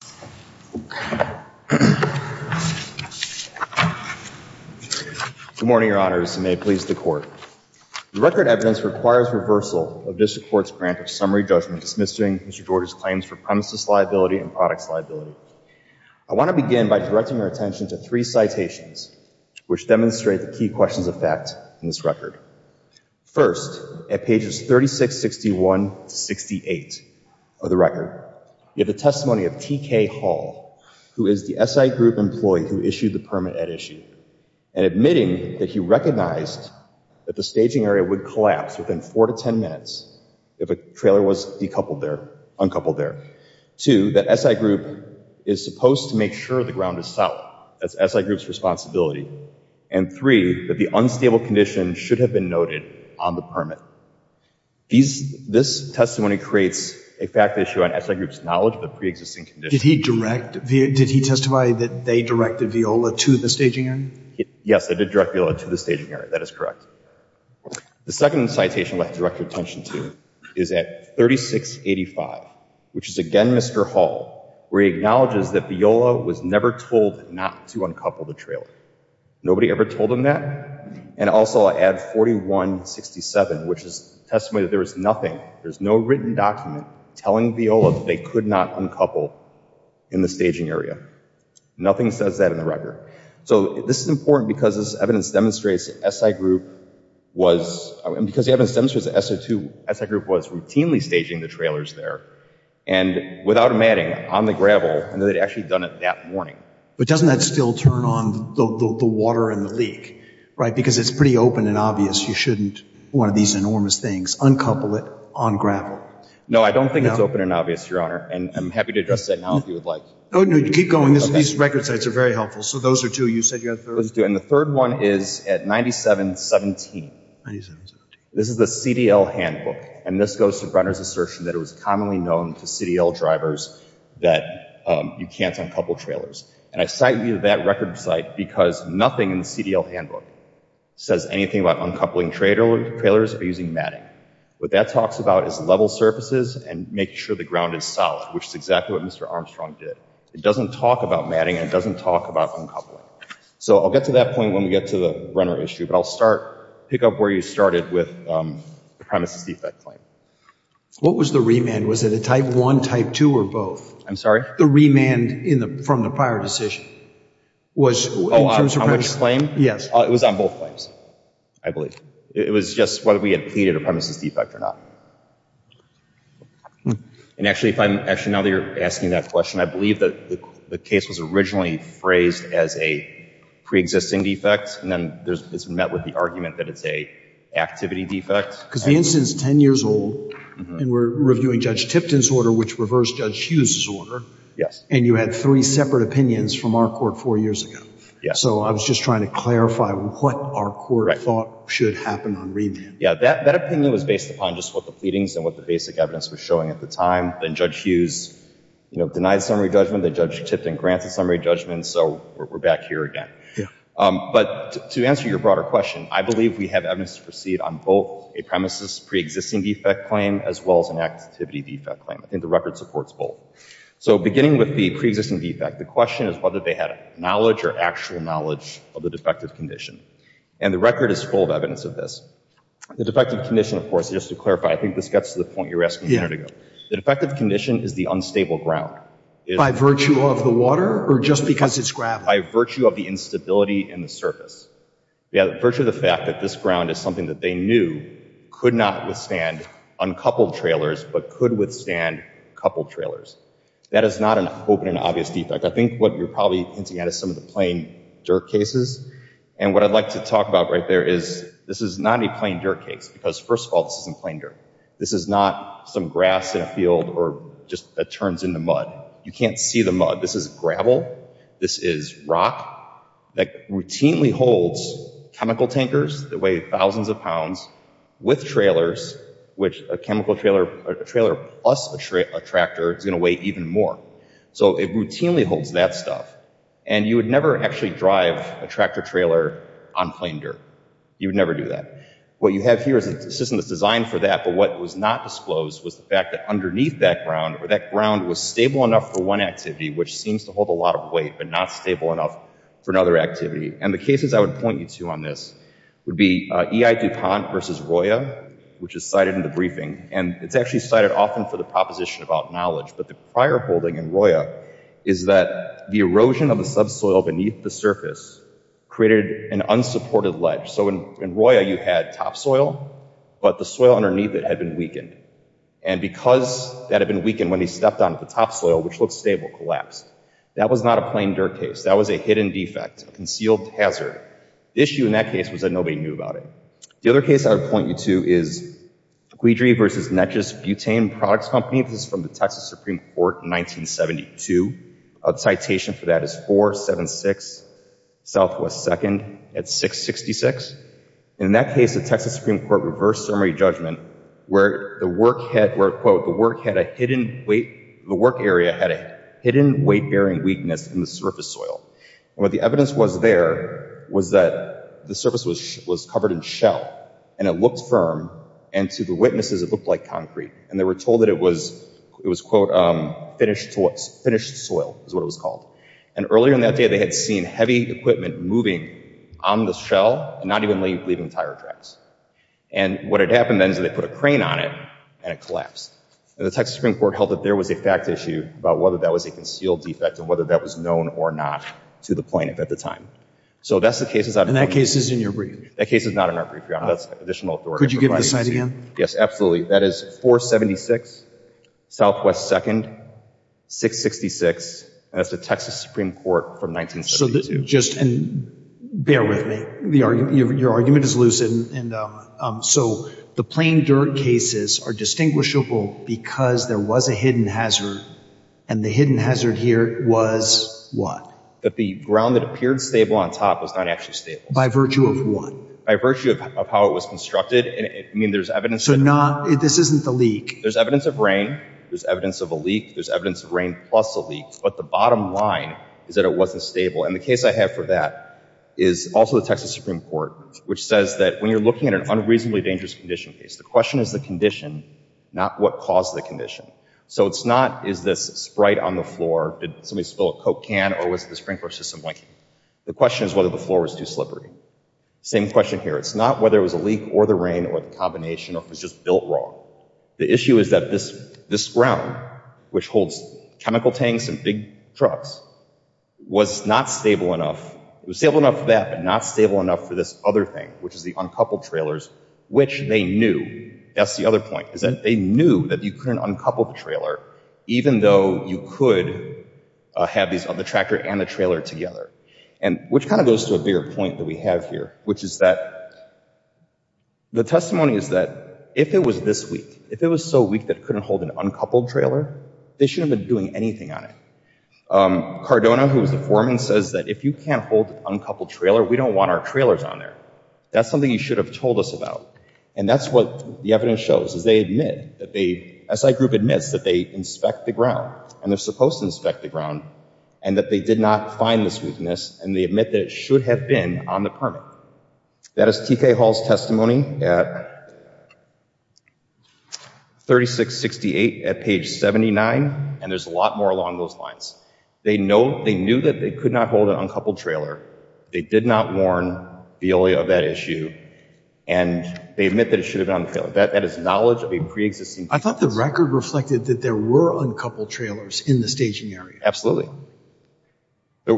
Good morning, Your Honors, and may it please the Court. The record evidence requires reversal of District Court's grant of summary judgment dismissing Mr. George's claims for premises liability and products liability. I want to begin by directing your attention to three citations which demonstrate the key questions of fact in this record. First, at pages 36, 61 to 68 of the record, you have the testimony of T.K. Hall, who is the SI Group employee who issued the permit at issue, and admitting that he recognized that the staging area would collapse within four to ten minutes if a trailer was decoupled there, uncoupled there. Two, that SI Group is supposed to make sure the ground is solid. That's SI Group's responsibility. And three, that the unstable condition should have been noted on the permit. This testimony creates a fact issue on SI Group's knowledge of the pre-existing condition. Did he direct – did he testify that they directed Viola to the staging area? Yes, they did direct Viola to the staging area. That is correct. The second citation I'd like to direct your attention to is at 3685, which is again Mr. Hall, where he acknowledges that Viola was never told not to uncouple the trailer. Nobody ever told him that. And also at 4167, which is the testimony that there was nothing, there was no written document telling Viola that they could not uncouple in the staging area. Nothing says that in the record. So this is important because this evidence demonstrates that SI Group was – and because the evidence demonstrates that SI Group was routinely staging the trailers there, and without matting, on the gravel, and that they'd actually done it that morning. But doesn't that still turn on the water and the leak, right? Because it's pretty open and obvious you shouldn't, one of these enormous things, uncouple it on gravel. No, I don't think it's open and obvious, Your Honor, and I'm happy to address that now if you would like. Oh, no, keep going. These record sites are very helpful. So those are two. You said you had a third? And the third one is at 9717. This is the CDL handbook, and this goes to Brenner's claim that you can't uncouple trailers. And I cite that record site because nothing in the CDL handbook says anything about uncoupling trailers or using matting. What that talks about is level surfaces and making sure the ground is solid, which is exactly what Mr. Armstrong did. It doesn't talk about matting, and it doesn't talk about uncoupling. So I'll get to that point when we get to the Brenner issue, but I'll pick up where you started with the premises defect claim. What was the remand? Was it a type one, type two, or both? I'm sorry? The remand from the prior decision. Oh, on which claim? Yes. It was on both claims, I believe. It was just whether we had pleaded a premises defect or not. And actually, now that you're asking that question, I believe that the case was originally phrased as a preexisting defect, and then it's been met with the argument that it's a activity defect. Because the instance is 10 years old, and we're reviewing Judge Tipton's order, which reversed Judge Hughes's order. Yes. And you had three separate opinions from our court four years ago. Yes. So I was just trying to clarify what our court thought should happen on remand. Yeah, that opinion was based upon just what the pleadings and what the basic evidence was showing at the time. And Judge Hughes, you know, denied summary judgment. Judge Tipton grants a summary judgment. So we're back here again. But to answer your broader question, I believe we have evidence to proceed on both a premises preexisting defect claim as well as an activity defect claim. I think the record supports both. So beginning with the preexisting defect, the question is whether they had knowledge or actual knowledge of the defective condition. And the record is full of evidence of this. The defective condition, of course, just to clarify, I think this gets to the point you were asking a minute ago. The defective condition is the unstable ground. By virtue of the water or just because it's gravel? By virtue of the instability in the surface. Yeah, the virtue of the fact that this ground is something that they knew could not withstand uncoupled trailers but could withstand coupled trailers. That is not an open and obvious defect. I think what you're probably hinting at is some of the plain dirt cases. And what I'd like to talk about right there is this is not a plain dirt case, because first of all, this is plain dirt. This is not some grass in a field or just that turns into mud. You can't see the mud. This is gravel. This is rock. That routinely holds chemical tankers that weigh thousands of pounds with trailers, which a chemical trailer plus a tractor is going to weigh even more. So it routinely holds that stuff. And you would never actually drive a tractor trailer on plain dirt. You would never do that. What you have here is a system that's designed for that. But what was not disclosed was the fact that underneath that ground or that ground was stable enough for one activity, which seems to hold a lot of weight, but not stable enough for another activity. And the cases I would point you to on this would be EI DuPont versus Roya, which is cited in the briefing. And it's actually cited often for the proposition about knowledge. But the prior holding in Roya is that the erosion of the subsoil beneath the surface created an unsupported ledge. So in Roya, you had topsoil, but the soil underneath it had been weakened. And because that had been weakened when he stepped on the topsoil, which looked stable, collapsed. That was not a plain dirt case. That was a hidden defect, a concealed hazard. The issue in that case was that nobody knew about it. The other case I would point you to is Guidry versus Natchez Butane Products Company. This is from the Texas Supreme Court in 1972. A citation for that is 476 Southwest 2nd at 666. And in that case, the Texas Supreme Court reversed summary judgment where the work had a hidden weight, the work area had a hidden weight bearing weakness in the surface soil. And what the evidence was there was that the surface was covered in shell, and it looked firm. And to the witnesses, it looked like concrete. And they were told that it was, it was quote, finished soil is what it was called. And earlier in that day, they had seen heavy equipment moving on the shell, not even leaving tire tracks. And what had happened then is they put a crane on it, and it collapsed. And the Texas Supreme Court held that there was a fact issue about whether that was a concealed defect and whether that was known or not to the plaintiff at the time. So that's the cases. And that case is in your brief? That case is not in our brief. That's additional authority. Could you give the site again? Yes, absolutely. That is 476, Southwest 2nd, 666. That's the Texas Supreme Court from 1972. So just bear with me, the argument, your argument is lucid. And so the plain dirt cases are distinguishable because there was a hidden hazard. And the hidden hazard here was what? That the ground that appeared stable on top was not actually stable. By virtue of what? By virtue of how it was constructed. I mean, there's evidence. So not, this isn't the leak. There's evidence of rain. There's evidence of a leak. There's evidence of rain plus a leak. But the bottom line is that it wasn't stable. And the case I have for that is also the Texas Supreme Court, which says that when you're looking at an unreasonably dangerous condition case, the question is the condition, not what caused the condition. So it's not, is this sprite on the floor? Did somebody spill a Coke can or was the sprinkler system blinking? The question is whether the floor was too slippery. Same question here. It's not whether it was a leak or the rain or the combination or if it was just built wrong. The issue is that this ground, which holds chemical tanks and big trucks, was not stable enough. It was stable enough for that, but not stable enough for this other thing, which is the uncoupled trailers, which they knew, that's the other point, is that they knew that you couldn't uncouple the trailer, even though you could have these on the tractor and the trailer together. And which kind of goes to a bigger point that we have here, which is that the testimony is that if it was this weak, if it was so weak that it couldn't hold an uncoupled trailer, they shouldn't have been doing anything on it. Cardona, who was the foreman, says that if you can't hold an uncoupled trailer, we don't want our trailers on there. That's something you should have told us about. And that's what the evidence shows, is they admit, the SI group admits that they inspect the ground, and they're supposed to inspect the ground, and that they did not find this weakness, and they admit that it should have been on the permit. That is T.K. Hall's testimony at 3668 at page 79, and there's a lot more along those lines. They know, they knew that they could not hold an uncoupled trailer. They did not warn Veolia of that issue, and they admit that it should have been on the trailer. That is knowledge of a pre-existing... I thought the record reflected that there were uncoupled trailers in the staging area. Absolutely. The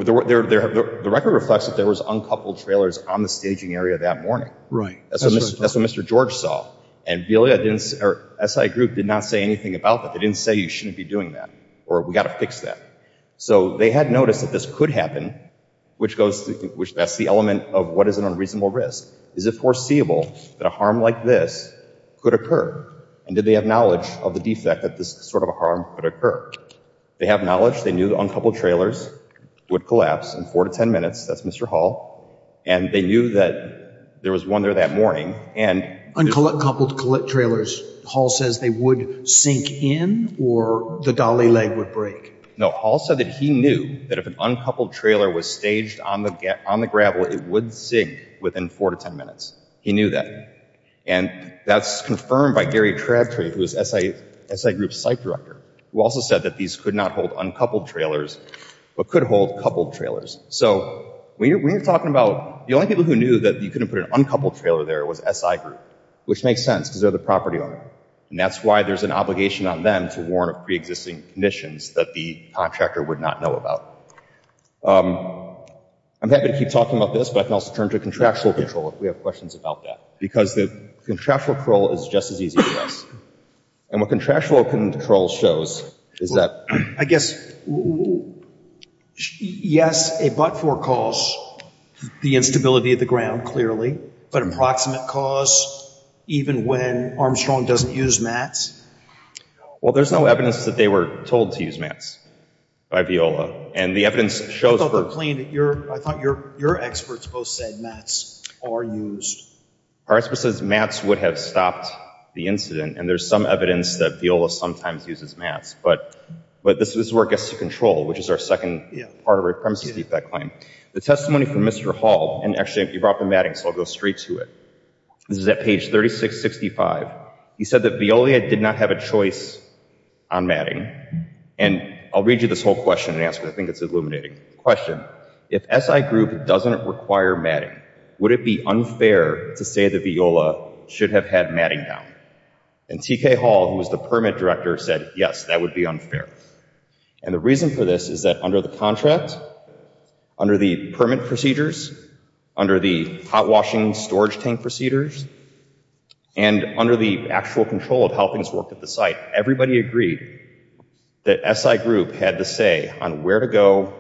record reflects that there was uncoupled trailers on the staging area that morning. Right. That's what Mr. George saw, and Veolia didn't, or SI group did not say anything about that. They didn't say you shouldn't be doing that, or we got to fix that. So they had noticed that this could happen, which goes, which that's the element of what is an unreasonable risk. Is it that a harm like this could occur, and did they have knowledge of the defect that this sort of harm could occur? They have knowledge. They knew the uncoupled trailers would collapse in four to ten minutes. That's Mr. Hall, and they knew that there was one there that morning, and... Uncoupled trailers, Hall says they would sink in, or the dolly leg would break. No, Hall said that he knew that if an uncoupled trailer was staged on the gravel, it would sink within four to ten minutes. He knew that, and that's confirmed by Gary Tragtory, who is SI group's site director, who also said that these could not hold uncoupled trailers, but could hold coupled trailers. So we're talking about the only people who knew that you couldn't put an uncoupled trailer there was SI group, which makes sense because they're the property owner, and that's why there's an obligation on them to warn of pre-existing conditions that the contractor would not know about. I'm happy to keep talking about this, but I can also turn to contractual control if we have questions about that, because the contractual control is just as easy to us, and what contractual control shows is that... I guess, yes, a but-for cause, the instability of the ground, clearly, but approximate cause, even when Armstrong doesn't use mats? Well, there's no evidence that they were told to use mats by Viola, and the evidence shows... I thought your experts both said mats are used. Our expert says mats would have stopped the incident, and there's some evidence that Viola sometimes uses mats, but this is where it gets to control, which is our second part of our premises defect claim. The testimony from Mr. Hall, and actually, you brought up the matting, so I'll go straight to it. This is at page 3665. He said that Viola did not have a choice on matting, and I'll read you this whole question and answer it. I think it's illuminating. Question. If SI Group doesn't require matting, would it be unfair to say that Viola should have had matting down? And T.K. Hall, who was the permit director, said, yes, that would be unfair, and the reason for this is that under the contract, under the permit procedures, under the hot washing storage tank procedures, and under the actual control of how things worked at the site, everybody agreed that SI Group had the say on where to go.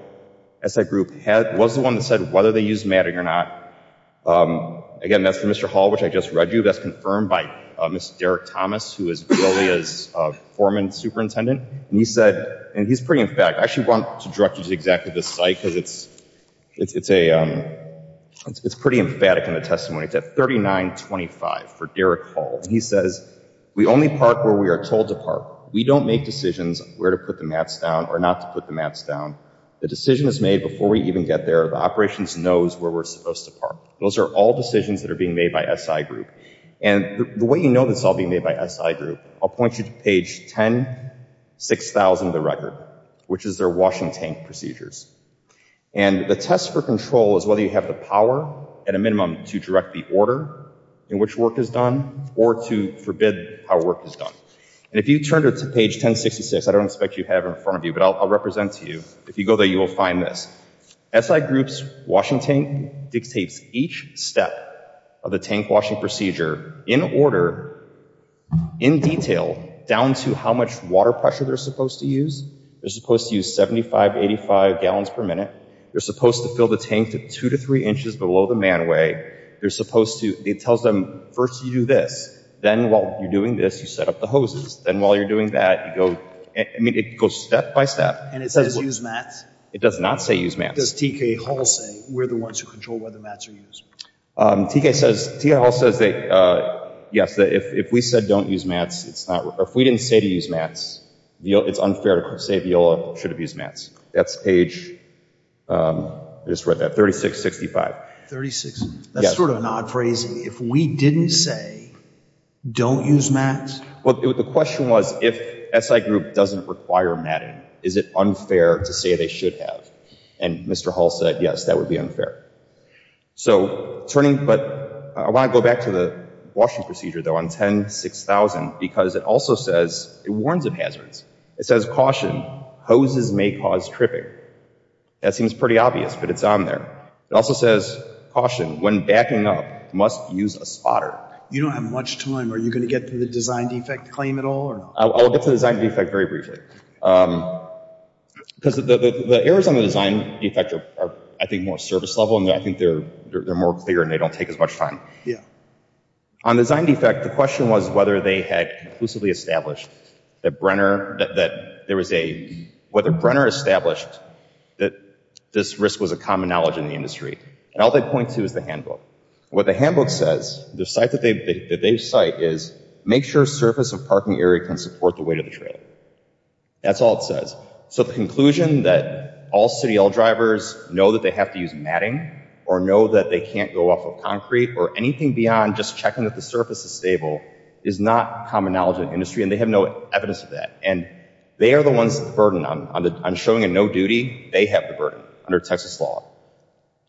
SI Group was the one that said whether they used matting or not. Again, that's for Mr. Hall, which I just read you. That's confirmed by Mr. Derek Thomas, who is Viola's foreman superintendent, and he said, and he's pretty emphatic. I actually want to direct you to exactly this site because it's pretty emphatic in the testimony. It's at 3925 for Derek Hall, and he says, we only park where we are told to park. We don't make decisions on where to put the mats down or not to put the mats down. The decision is made before we even get there. The operations knows where we're supposed to park. Those are all decisions that are being made by SI Group, and the way you know this is all being made by SI Group, I'll point you to page 10-6000 of the record, which is their washing tank procedures, and the test for control is whether you have the power at a minimum to direct the order in which work is done or to forbid how work is done, and if you turn to page 1066, I don't expect you to have it in front of you, but I'll represent to you. If you go there, you will find this. SI Group's washing tank dictates each step of the tank procedure in order, in detail, down to how much water pressure they're supposed to use. They're supposed to use 75, 85 gallons per minute. They're supposed to fill the tank to two to three inches below the manway. They're supposed to, it tells them, first you do this, then while you're doing this, you set up the hoses. Then while you're doing that, you go, I mean, it goes step by step. And it says use mats? It does not say use mats. Does T.K. Hall say, we're the ones who use mats? T.K. Hall says, yes, if we said don't use mats, it's not, if we didn't say to use mats, it's unfair to say Viola should have used mats. That's page, I just read that, 3665. 36, that's sort of an odd phrase. If we didn't say, don't use mats? Well, the question was, if SI Group doesn't require matting, is it unfair to say they should have? And Mr. Hall said, yes, that would be unfair. So turning, but I want to go back to the washing procedure, though, on 10-6000, because it also says, it warns of hazards. It says, caution, hoses may cause tripping. That seems pretty obvious, but it's on there. It also says, caution, when backing up, must use a spotter. You don't have much time. Are you going to get to the design defect very briefly? Because the errors on the design defect are, I think, more service level, and I think they're more clear and they don't take as much time. On design defect, the question was whether they had conclusively established that Brenner, that there was a, whether Brenner established that this risk was a common knowledge in the industry. And all they point to is the handbook. What the handbook says, the site that they cite is, make sure surface of parking area can support the weight of the trailer. That's all it says. So the conclusion that all CDL drivers know that they have to use matting, or know that they can't go off of concrete, or anything beyond just checking that the surface is stable, is not common knowledge in the industry, and they have no evidence of that. And they are the ones, the burden on showing a no duty, they have the burden under Texas law.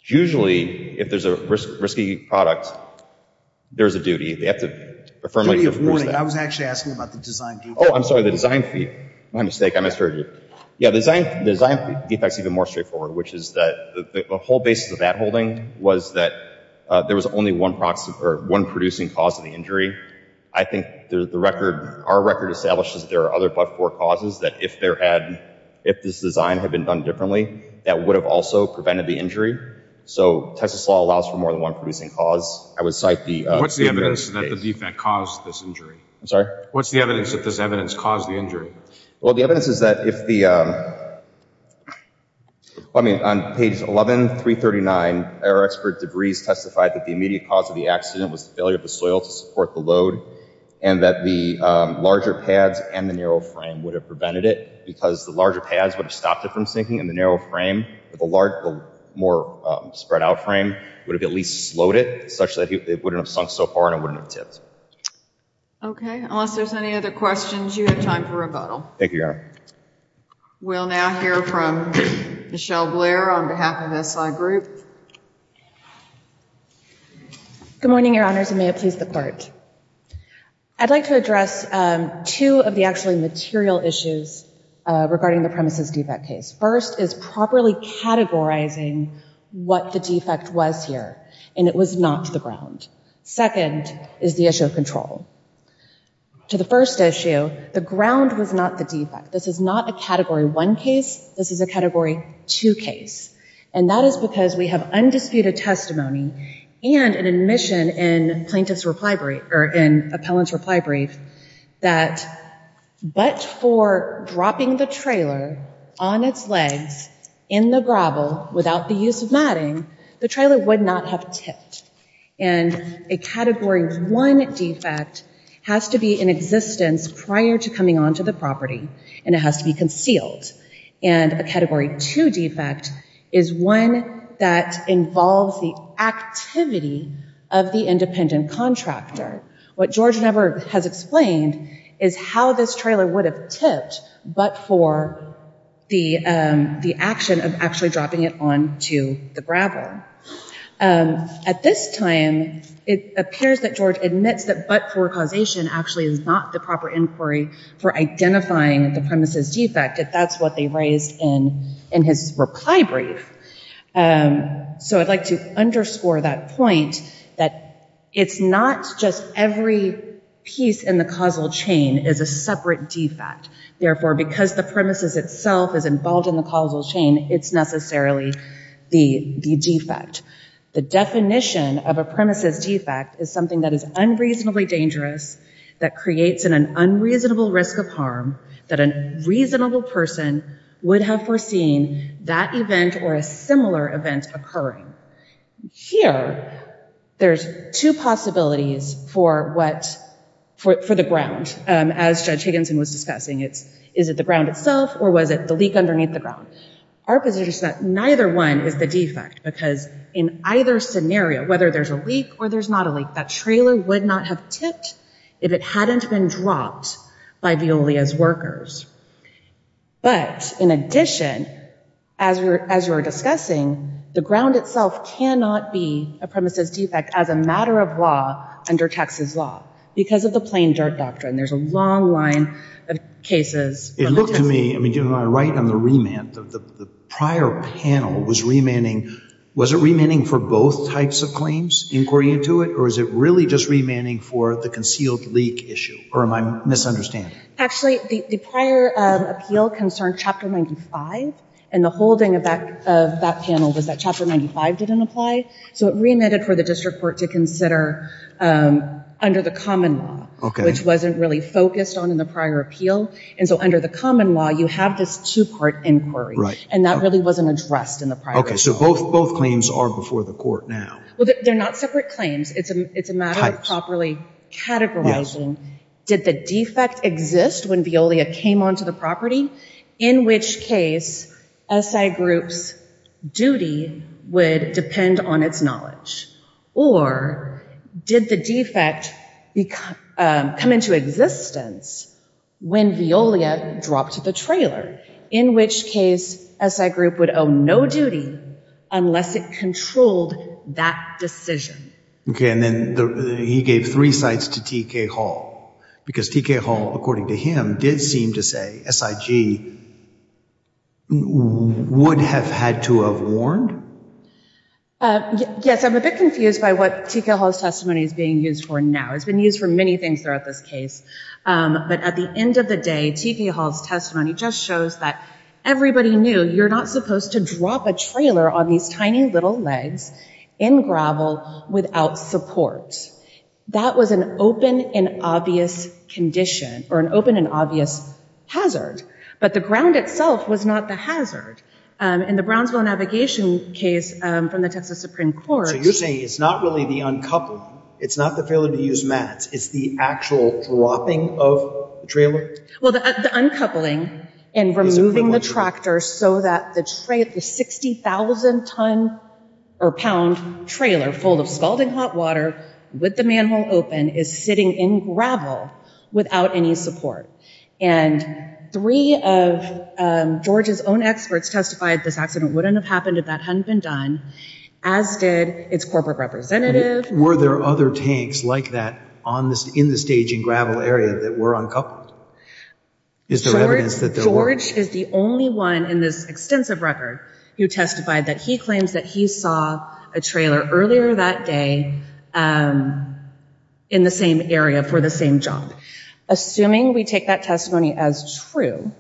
Usually, if there's a risky product, there's a duty. They have to affirmably I was actually asking about the design. Oh, I'm sorry, the design. My mistake. I misheard you. Yeah, the design, the design defects even more straightforward, which is that the whole basis of that holding was that there was only one product or one producing cause of the injury. I think the record, our record establishes there are other but for causes that if there had, if this design had been done differently, that would have also prevented the injury. So Texas law allows for more than one producing cause. I would cite the what's the evidence that the defect caused this injury? I'm sorry? What's the evidence that this evidence caused the injury? Well, the evidence is that if the, I mean, on page 11, 339, error expert degrees testified that the immediate cause of the accident was the failure of the soil to support the load, and that the larger pads and the narrow frame would have prevented it, because the larger pads would have stopped it from sinking, and the narrow frame, the large, the more spread out frame would have at least slowed it such that it wouldn't have sunk so far and it wouldn't have tipped. Okay, unless there's any other questions, you have time for rebuttal. Thank you, Your Honor. We'll now hear from Michelle Blair on behalf of SI Group. Good morning, Your Honors, and may it please the Court. I'd like to address two of the actual material issues regarding the premises defect case. First is properly categorizing what the defect was here, and it was not the ground. Second is the issue of control. To the first issue, the ground was not the defect. This is not a Category 1 case. This is a Category 2 case, and that is because we have undisputed testimony and an admission in plaintiff's reply brief, or in appellant's reply brief, that but for dropping the trailer on its legs in the gravel without the use of matting, the trailer would not have tipped. And a Category 1 defect has to be in existence prior to coming onto the property, and it has to be concealed. And a Category 2 defect is one that involves the activity of the independent contractor. What George Never has explained is how this trailer would have tipped but for the action of actually dropping it onto the gravel. At this time, it appears that George admits that but for causation actually is not the proper inquiry for identifying the premises defect, if that's what they raised in his reply brief. So I'd like to underscore that point, that it's not just every piece in the causal chain is a separate defect. Therefore, because the premises itself is involved in the causal chain, it's necessarily the defect. The definition of a premises defect is something that is unreasonably dangerous, that creates an unreasonable risk of harm, that a reasonable person would have foreseen that event or a similar event occurring. Here, there's two possibilities for the ground. As Judge Higginson was discussing, is it the ground itself or was it the leak underneath the ground? Our position is that neither one is the defect because in either scenario, whether there's a leak or there's not a leak, that trailer would not have tipped if it hadn't been dropped by Veolia's workers. But in addition, as we're as we're discussing, the ground itself cannot be a premises defect as a matter of law under Texas law because of the plain dirt doctrine. There's a long line of cases. It looked to me, I mean, you know, I write on the remand, the prior panel was remanding, was it remanding for both types of claims, inquiry into it, or is it really just remanding for the concealed leak issue? Or am I misunderstanding? Actually, the prior appeal concerned Chapter 95, and the holding of that panel was that Chapter 95 didn't apply, so it remanded for the district court to consider under the common law, which wasn't really focused on in the prior appeal. And so under the common law, you have this two-part inquiry, and that really wasn't addressed in the prior case. Okay, so both claims are before the court now. Well, they're not separate claims. It's a matter of properly categorizing. Did the defect exist when Veolia came onto the property? In which case, SI group's duty would depend on its knowledge. Or did the defect come into existence when Veolia dropped the trailer? In which case, SI group would owe no duty unless it controlled that decision. Okay, and then he gave three sites to T.K. Hall, because T.K. Hall, according to him, did seem to say SIG would have had to have warned. Yes, I'm a bit confused by what T.K. Hall's testimony is being used for now. It's been used for many things throughout this case, but at the end of the day, T.K. Hall's testimony just shows that everybody knew you're not supposed to drop a trailer on these tiny little legs in gravel without support. That was an open and obvious condition, or an open and obvious hazard, but the ground itself was not the hazard. In the Brownsville Navigation case from the Texas Supreme Court... So you're saying it's not really the uncoupling, it's not the failure to use mats, it's the actual dropping of the trailer? Well, the uncoupling and removing the tractor so that the 60,000 ton or pound trailer full of scalding hot water with the manhole open is sitting in gravel without any support. And three of George's own experts testified this accident wouldn't have happened if that hadn't been done, as did its corporate representative. Were there other tanks like that in the staging gravel area that were uncoupled? Is there evidence that there is? George is the only one in this extensive record who testified that he claims that he saw a trailer earlier that day in the same area for the same job. Assuming we take that testimony as true,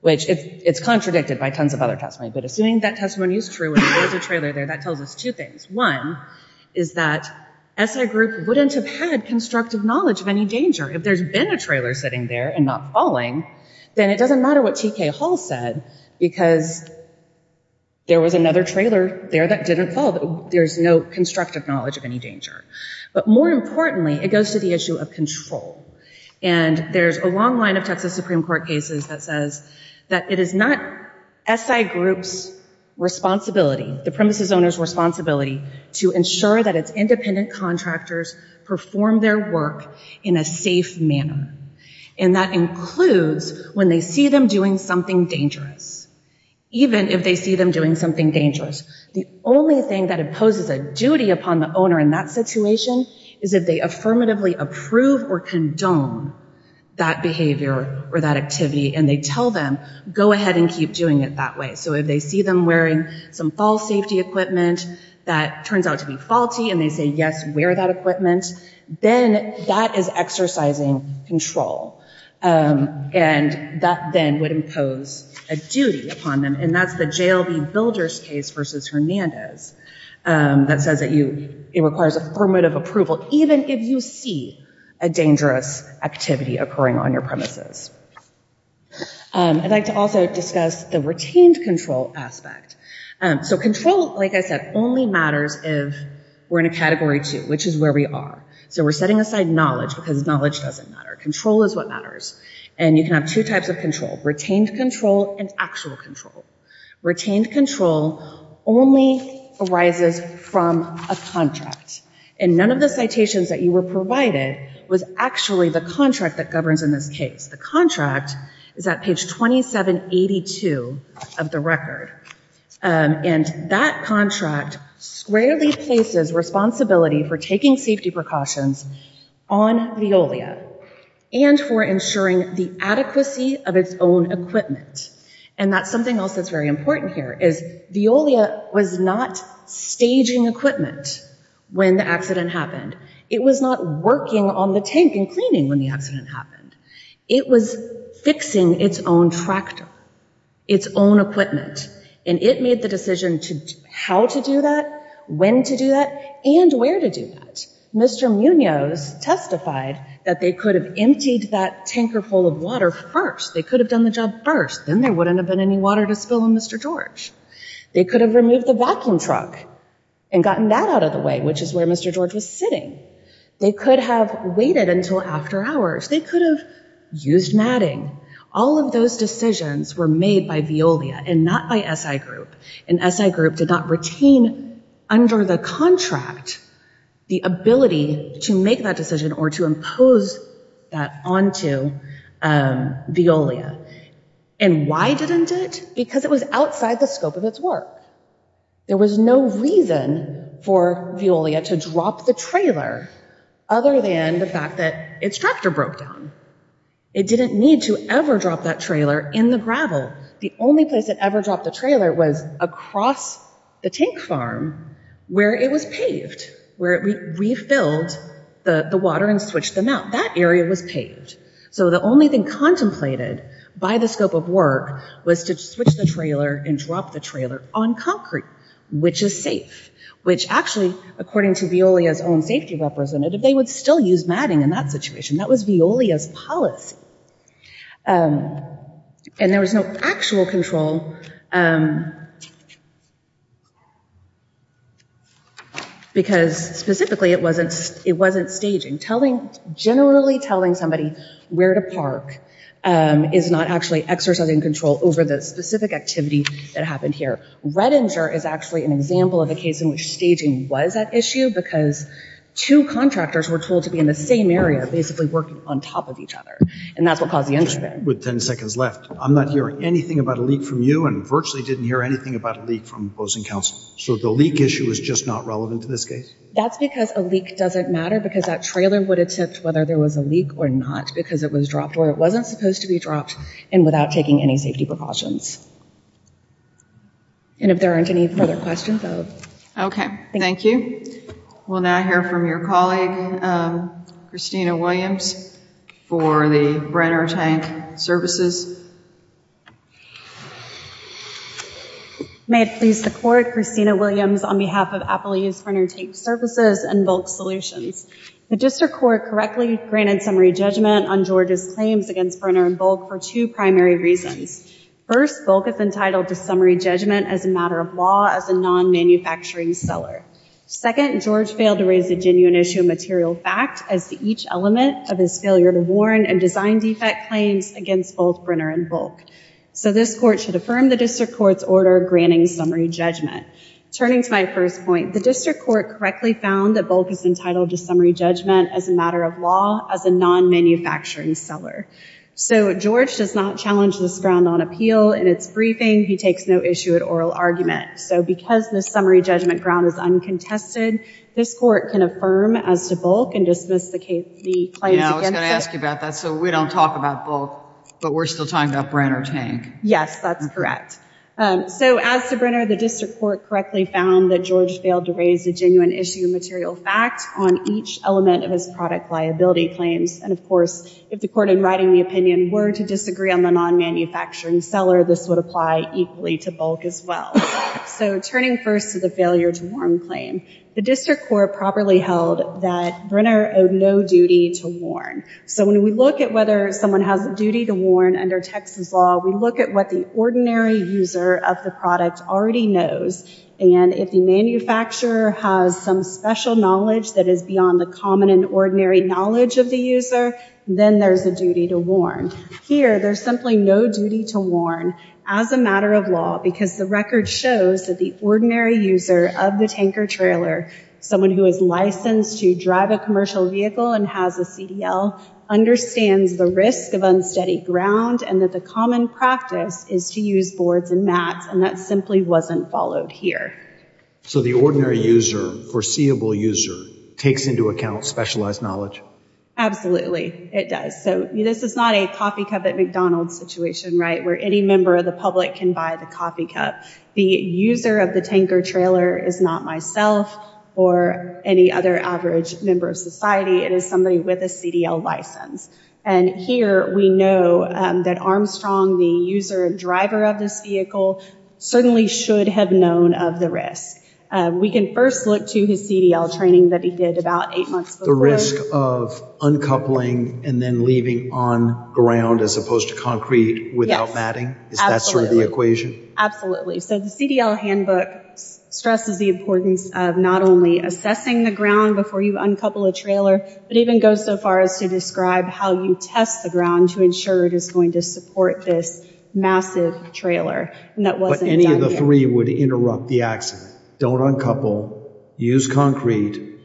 which it's contradicted by tons of other testimony, but assuming that testimony is true and there's a trailer there, that tells us two things. One is that SI group wouldn't have had constructive knowledge of any danger, which Paul said, because there was another trailer there that didn't fall. There's no constructive knowledge of any danger. But more importantly, it goes to the issue of control. And there's a long line of Texas Supreme Court cases that says that it is not SI group's responsibility, the premises owner's responsibility to ensure that its independent contractors perform their work in a safe manner. And that includes when they see them doing something dangerous. Even if they see them doing something dangerous, the only thing that imposes a duty upon the owner in that situation is if they affirmatively approve or condone that behavior or that activity and they tell them go ahead and keep doing it that way. So if they see them wearing some fall safety equipment that turns out to be faulty and they say yes, wear that equipment, then that is exercising control. And that then would impose a duty upon them. And that's the JLB builders case versus Hernandez that says that it requires affirmative approval, even if you see a dangerous activity occurring on your premises. I'd like to also discuss the retained control aspect. So control, like I said, only matters if we're in a category two, which is where we are. So we're setting aside knowledge because knowledge doesn't matter. Control is what matters. And you can have two types of control, retained control and actual control. Retained control only arises from a contract. And none of the citations that you were provided was actually the contract that governs in this case. The contract is at page 2782 of the record. And that contract squarely places responsibility for taking safety precautions on Veolia and for ensuring the adequacy of its own equipment. And that's something else that's very important here is Veolia was not staging equipment when the accident happened. It was not working on the tank and cleaning when the accident happened. It was fixing its own tractor, its own equipment. And it made the decision how to do that, when to do that, and where to do that. Mr. Munoz testified that they could have emptied that tanker full of water first. They could have done the job first. Then there wouldn't have been any water to spill on Mr. George. They could have removed the vacuum truck and gotten that out of the way, which is where Mr. George was sitting. They could have waited until after hours. They could have used matting. All of those decisions were made by Veolia and not by SI Group. And SI Group did not retain under the contract the ability to make that decision or to impose that onto Veolia. And why didn't it? Because it was outside the scope of its work. There was no reason for Veolia to drop the trailer other than the fact that its tractor broke down. It didn't need to ever drop that trailer in the gravel. The only place it ever dropped the trailer was across the tank farm where it was paved, where it refilled the water and switched them out. That area was paved. So the only thing contemplated by the scope of work was to switch the trailer and drop the trailer on concrete, which is safe, which actually, according to Veolia's own safety representative, they would still use matting in that situation. That was Veolia's policy. And there was no actual control because specifically it wasn't staging. Generally telling somebody where to park is not actually exercising control over the specific activity that happened here. Redinger is actually an example of a case in which staging was at issue because two contractors were told to be in the same area basically working on top of each other. And that's what caused the incident. With 10 seconds left, I'm not hearing anything about a leak from you and virtually didn't hear anything about a leak from opposing counsel. So the leak issue is just not relevant to this case? That's because a leak doesn't matter because that trailer would have tipped whether there was a leak or not because it was dropped where it wasn't supposed to be dropped and without taking any safety precautions. And if there aren't any further questions, vote. Okay, thank you. We'll now hear from your colleague, Christina Williams, for the Brenner Tank Services. May it please the Court, Christina Williams on behalf of Apple Use Brenner Tank Services and Bulk Solutions. The District Court correctly granted summary judgment on Georgia's claims against Brenner and Bulk for two primary reasons. First, Bulk is entitled to summary judgment as a matter of law as a non-manufacturing seller. Second, George failed to raise a genuine issue of material fact as to each element of his failure to warn and design defect claims against both Brenner and Bulk. So this Court should affirm the District Court's order granting summary judgment. Turning to my first point, the District Court correctly found that Bulk is entitled to summary judgment as a matter of law as a non-manufacturing seller. So George does not challenge this ground on appeal in its briefing. He takes no issue at oral argument. So because the summary judgment ground is uncontested, this Court can affirm as to Bulk and dismiss the claims against it. I was going to ask you about that. So we don't talk about Bulk, but we're still talking about Brenner Tank. Yes, that's correct. So as to Brenner, the District Court correctly found that George failed to raise a genuine issue of material fact on each element of his product liability claims. And of course, if the Court in writing the opinion were to disagree on the non-manufacturing seller, this would apply equally to Bulk as well. So turning first to the failure to warn claim, the District Court properly held that Brenner owed no duty to warn. So when we look at whether someone has a duty to warn under Texas law, we look at what the ordinary user of the product already knows. And if the manufacturer has some special knowledge that is beyond the common and ordinary knowledge of the user, then there's a duty to warn. Here, there's simply no duty to warn as a matter of law because the record shows that the ordinary user of the tanker trailer, someone who is licensed to drive a commercial vehicle and has a CDL, understands the risk of unsteady ground and that the common practice is to use boards and mats. And that simply wasn't followed here. So the ordinary user, foreseeable user, takes into account specialized knowledge? Absolutely, it does. So this is not a coffee cup at McDonald's situation, right, where any member of the public can buy the coffee cup. The user of the tanker trailer is not myself or any other average member of society. It is somebody with a CDL license. And here we know that Armstrong, the user and driver of this vehicle, certainly should have known of the risk. We can first look to his CDL training that he did about eight months before. The risk of uncoupling and then leaving on ground as opposed to concrete without matting? Is that sort of the equation? Absolutely. So the CDL handbook stresses the importance of not only assessing the ground before you uncouple a trailer, but even go so far as to describe how you test the ground to ensure it is going to support this massive trailer. But any of the three would interrupt the accident. Don't uncouple, use concrete,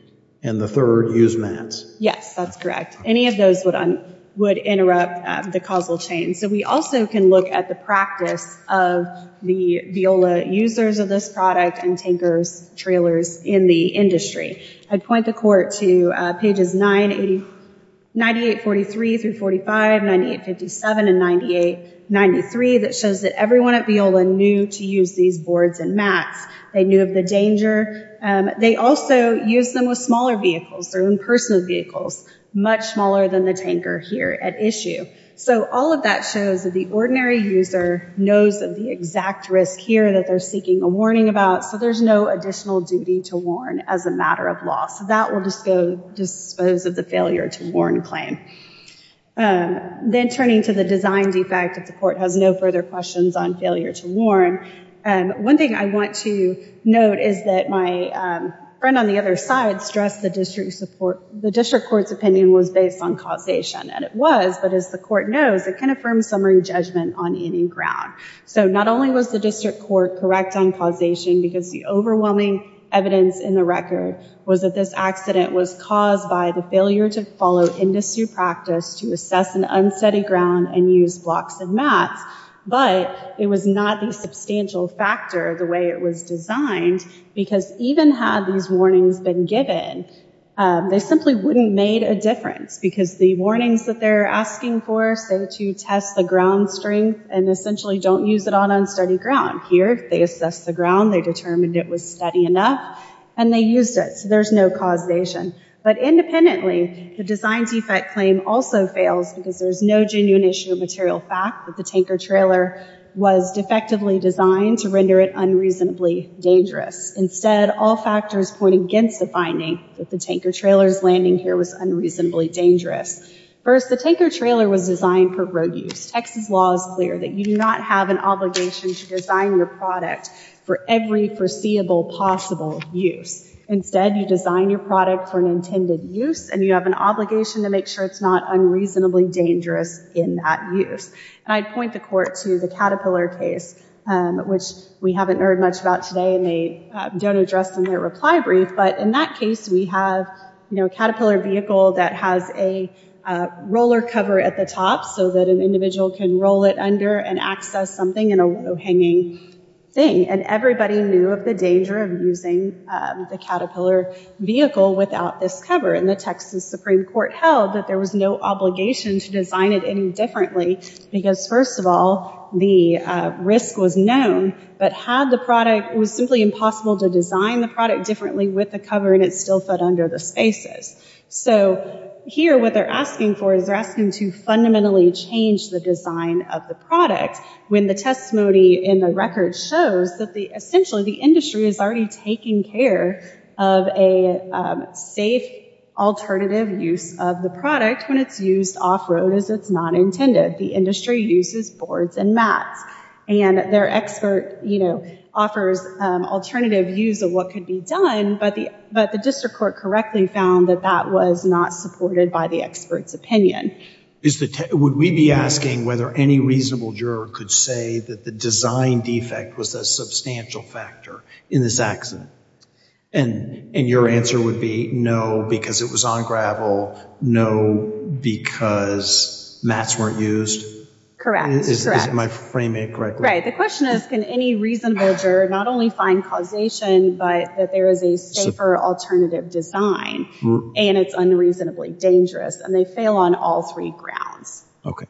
and the third, use mats. Yes, that's correct. Any of those would interrupt the causal chain. So we also can look at the practice of the Viola users of this product and tankers trailers in the industry. I'd point the court to pages 98-43 through 45, 98-57 and 98-93 that shows that everyone at Viola knew to use these boards and mats. They knew of the danger. They also used them with smaller vehicles, their own personal vehicles, much smaller than the tanker here at issue. So all of that shows that the ordinary user knows of the exact risk here that they're seeking a warning about. So there's no additional duty to warn as a matter of law. So that will just go dispose of the failure to warn claim. Then turning to the design defect, if the court has no further questions on failure to warn, one thing I want to note is that my friend on the other side stressed the district support, the district court's opinion was based on causation. And it was, but as the court knows, it can affirm summary judgment on any ground. So not only was the court correct on causation because the overwhelming evidence in the record was that this accident was caused by the failure to follow industry practice to assess an unsteady ground and use blocks and mats, but it was not the substantial factor the way it was designed because even had these warnings been given, they simply wouldn't made a difference because the warnings that they're asking for, say to test the ground strength and essentially don't use it on unsteady ground. Here they assess the ground, they determined it was steady enough and they used it. So there's no causation. But independently, the design defect claim also fails because there's no genuine issue of material fact that the tanker trailer was defectively designed to render it unreasonably dangerous. Instead, all factors point against the finding that the tanker trailer's landing here was unreasonably dangerous. First, the tanker trailer was designed for road use. Texas law is clear that you do not have an obligation to design your product for every foreseeable possible use. Instead, you design your product for an intended use and you have an obligation to make sure it's not unreasonably dangerous in that use. And I'd point the court to the Caterpillar case, which we haven't heard much about today and they don't address in their reply brief. But in that case, we have a Caterpillar vehicle that has a roller cover at the top so that an individual can roll it under and access something in a low-hanging thing. And everybody knew of the danger of using the Caterpillar vehicle without this cover. And the Texas Supreme Court held that there was no obligation to design it any differently because, first of all, the risk was known. But had the product, it was simply impossible to design the product differently with the cover and it still fit under the spaces. So here, what they're asking for is they're asking to fundamentally change the design of the product when the testimony in the record shows that essentially the industry is already taking care of a safe alternative use of the product when it's used off-road as it's not intended. The industry uses boards and mats and their expert, you know, offers alternative use of what could be but the district court correctly found that that was not supported by the expert's opinion. Would we be asking whether any reasonable juror could say that the design defect was a substantial factor in this accident? And your answer would be no because it was on gravel, no because mats weren't used? Correct. Am I framing it correctly? Right. The question is can any reasonable juror not only find causation but that there is a safer alternative design and it's unreasonably dangerous and they fail on all three grounds. Okay.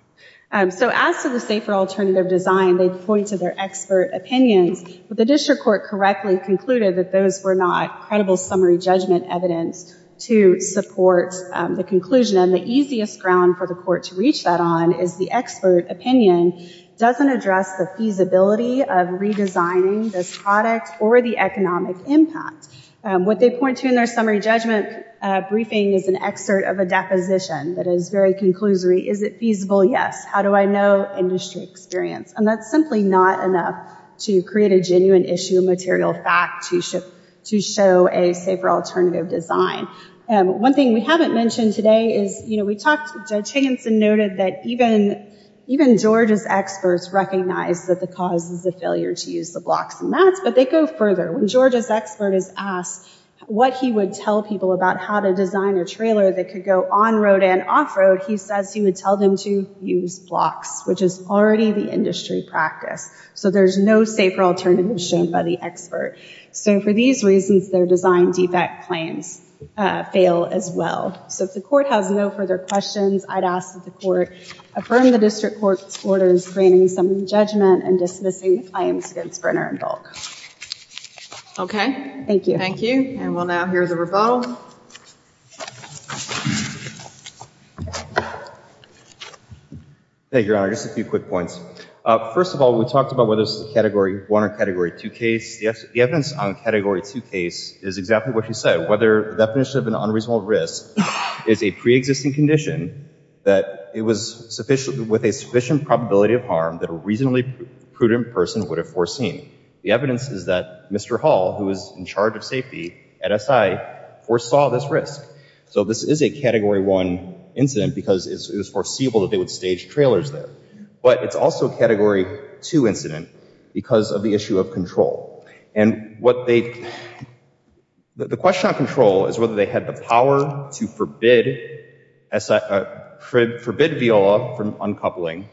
So as to the safer alternative design, they point to their expert opinions but the district court correctly concluded that those were not credible summary judgment evidence to support the conclusion and the easiest ground for the court to reach that on is the expert opinion doesn't address the feasibility of redesigning this product or the economic impact. What they point to in their summary judgment briefing is an excerpt of a deposition that is very conclusory. Is it feasible? Yes. How do I know industry experience? And that's simply not enough to create a genuine issue of material fact to show a safer alternative design. One thing we haven't mentioned today is, you know, we talked Judge Higginson noted that even George's experts recognize that the cause is the failure to use the blocks and mats but they go further. When George's expert is asked what he would tell people about how to design a trailer that could go on road and off road, he says he would tell them to use blocks which is already the industry practice. So there's no safer alternative shown by the expert. So for these reasons their design defect claims fail as well. So if the court has no further questions, I'd ask that the court affirm the district court's orders granting some judgment and dismissing claims against Brenner and Dalk. Okay. Thank you. Thank you. And we'll now hear the rebuttal. Thank you, Your Honor. Just a few quick points. First of all, we talked about whether this is a Category 1 or Category 2 case. The evidence on Category 2 case is exactly what you said. Whether the definition of an unreasonable risk is a pre-existing condition that it was with a sufficient probability of harm that a reasonably prudent person would have foreseen. The evidence is that Mr. Hall, who is in charge of safety at SI, foresaw this risk. So this is a Category 1 incident because it was foreseeable that they would stage trailers there. But it's also a Category 2 incident because of the issue of control. And what they, the question on control is whether they had the power to forbid VIOLA from uncoupling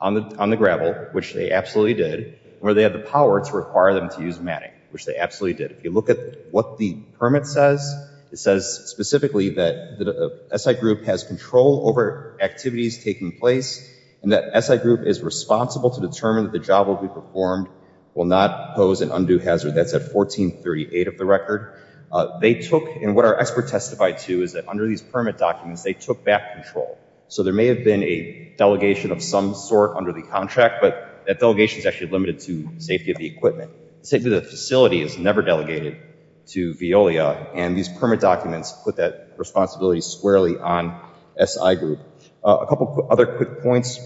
on the gravel, which they absolutely did, or they had the power to require them to use matting, which they absolutely did. If you look at what the permit says, it says specifically that the SI group has control over activities taking place, and that SI group is responsible to determine that the job will be performed will not pose an undue hazard. That's at 1438 of the record. They took, and what our expert testified to, is that under these permit documents, they took back control. So there may have been a delegation of some sort under the contract, but that delegation is actually limited to safety of the equipment. Safety of the facility is never delegated to VIOLA, and these permit documents put that responsibility squarely on SI group. A couple other quick points.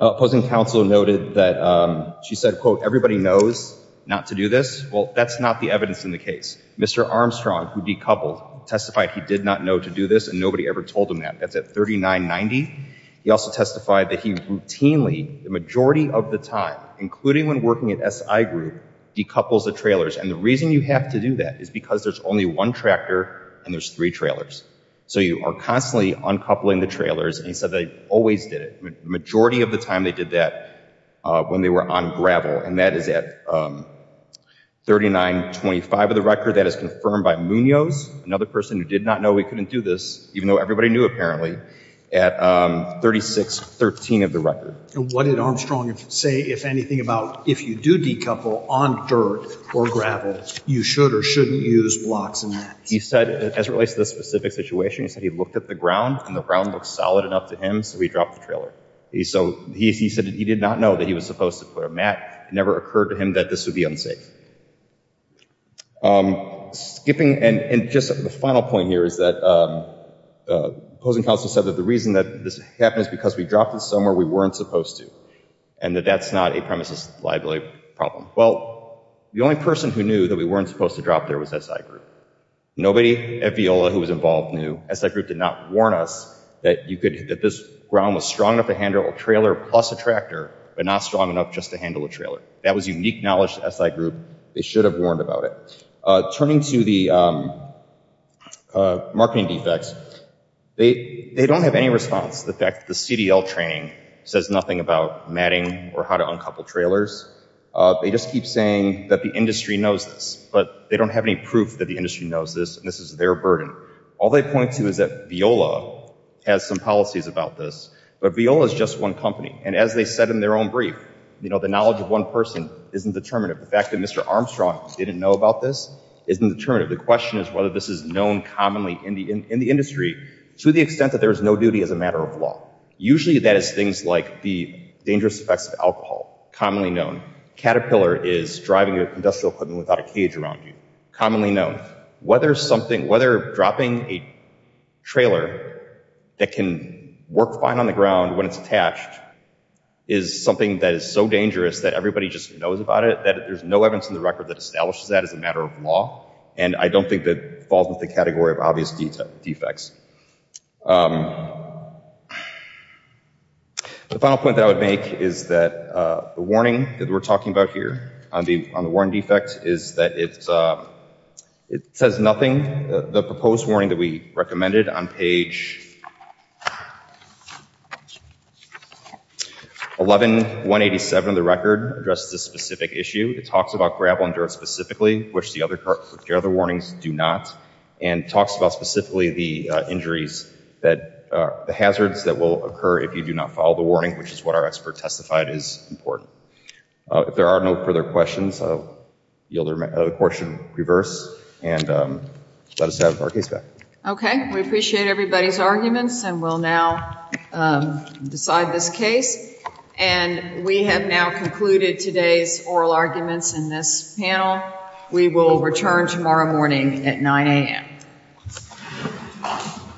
Opposing counsel noted that she said, quote, everybody knows not to do this. Well, that's not the evidence in the case. Mr. Armstrong, who decoupled, testified he did not know to do this, and nobody ever told him that. That's at 3990. He also testified that he routinely, the majority of the time, including when working at SI group, decouples the trailers. And the only one tractor, and there's three trailers. So you are constantly uncoupling the trailers, and he said they always did it. The majority of the time they did that when they were on gravel, and that is at 3925 of the record. That is confirmed by Munoz, another person who did not know he couldn't do this, even though everybody knew apparently, at 3613 of the record. And what did Armstrong say, if anything, about if you do decouple on dirt or gravel, you should or shouldn't use blocks and mats? He said, as it relates to this specific situation, he said he looked at the ground, and the ground looked solid enough to him, so he dropped the trailer. So he said he did not know that he was supposed to put a mat. It never occurred to him that this would be unsafe. Skipping, and just the final point here is that opposing counsel said that the reason that this happened is because we dropped it somewhere we weren't supposed to, and that that's not a premises liability problem. Well, the only person who knew that we weren't supposed to drop there was SI group. Nobody at Viola who was involved knew. SI group did not warn us that this ground was strong enough to handle a trailer plus a tractor, but not strong enough just to handle a trailer. That was unique knowledge to SI group. They should have warned about it. Turning to the marketing defects, they don't have any response to the fact that the CDL training says nothing about matting or how to uncouple trailers. They just keep saying that the industry knows this, but they don't have any proof that the industry knows this, and this is their burden. All they point to is that Viola has some policies about this, but Viola is just one company, and as they said in their own brief, you know, the knowledge of one person isn't determinative. The fact that Mr. Armstrong didn't know about this isn't determinative. The question is whether this is known commonly in the industry to the extent that there is no duty as a matter of law. Usually that is things like the dangerous effects of alcohol, commonly known. Caterpillar is driving industrial equipment without a cage around you, commonly known. Whether dropping a trailer that can work fine on the ground when it's attached is something that is so dangerous that everybody just knows about it, that there's no evidence in the record that establishes that as a matter of law, and I don't think that falls into the category of obvious defects. The final point that I would make is that the warning that we're talking about here on the warning defect is that it says nothing. The proposed warning that we recommended on page 11.187 of the record addresses a specific issue. It talks about gravel and dirt specifically, which the other warnings do not, and talks about specifically the injuries, that the hazards that will occur if you do not follow the warning, which is what our expert testified is important. If there are no further questions, I'll yield the court should reverse and let us have our case back. Okay, we appreciate everybody's arguments and we'll now decide this case, and we have now concluded today's oral arguments in this panel. We will return tomorrow morning at 9 a.m.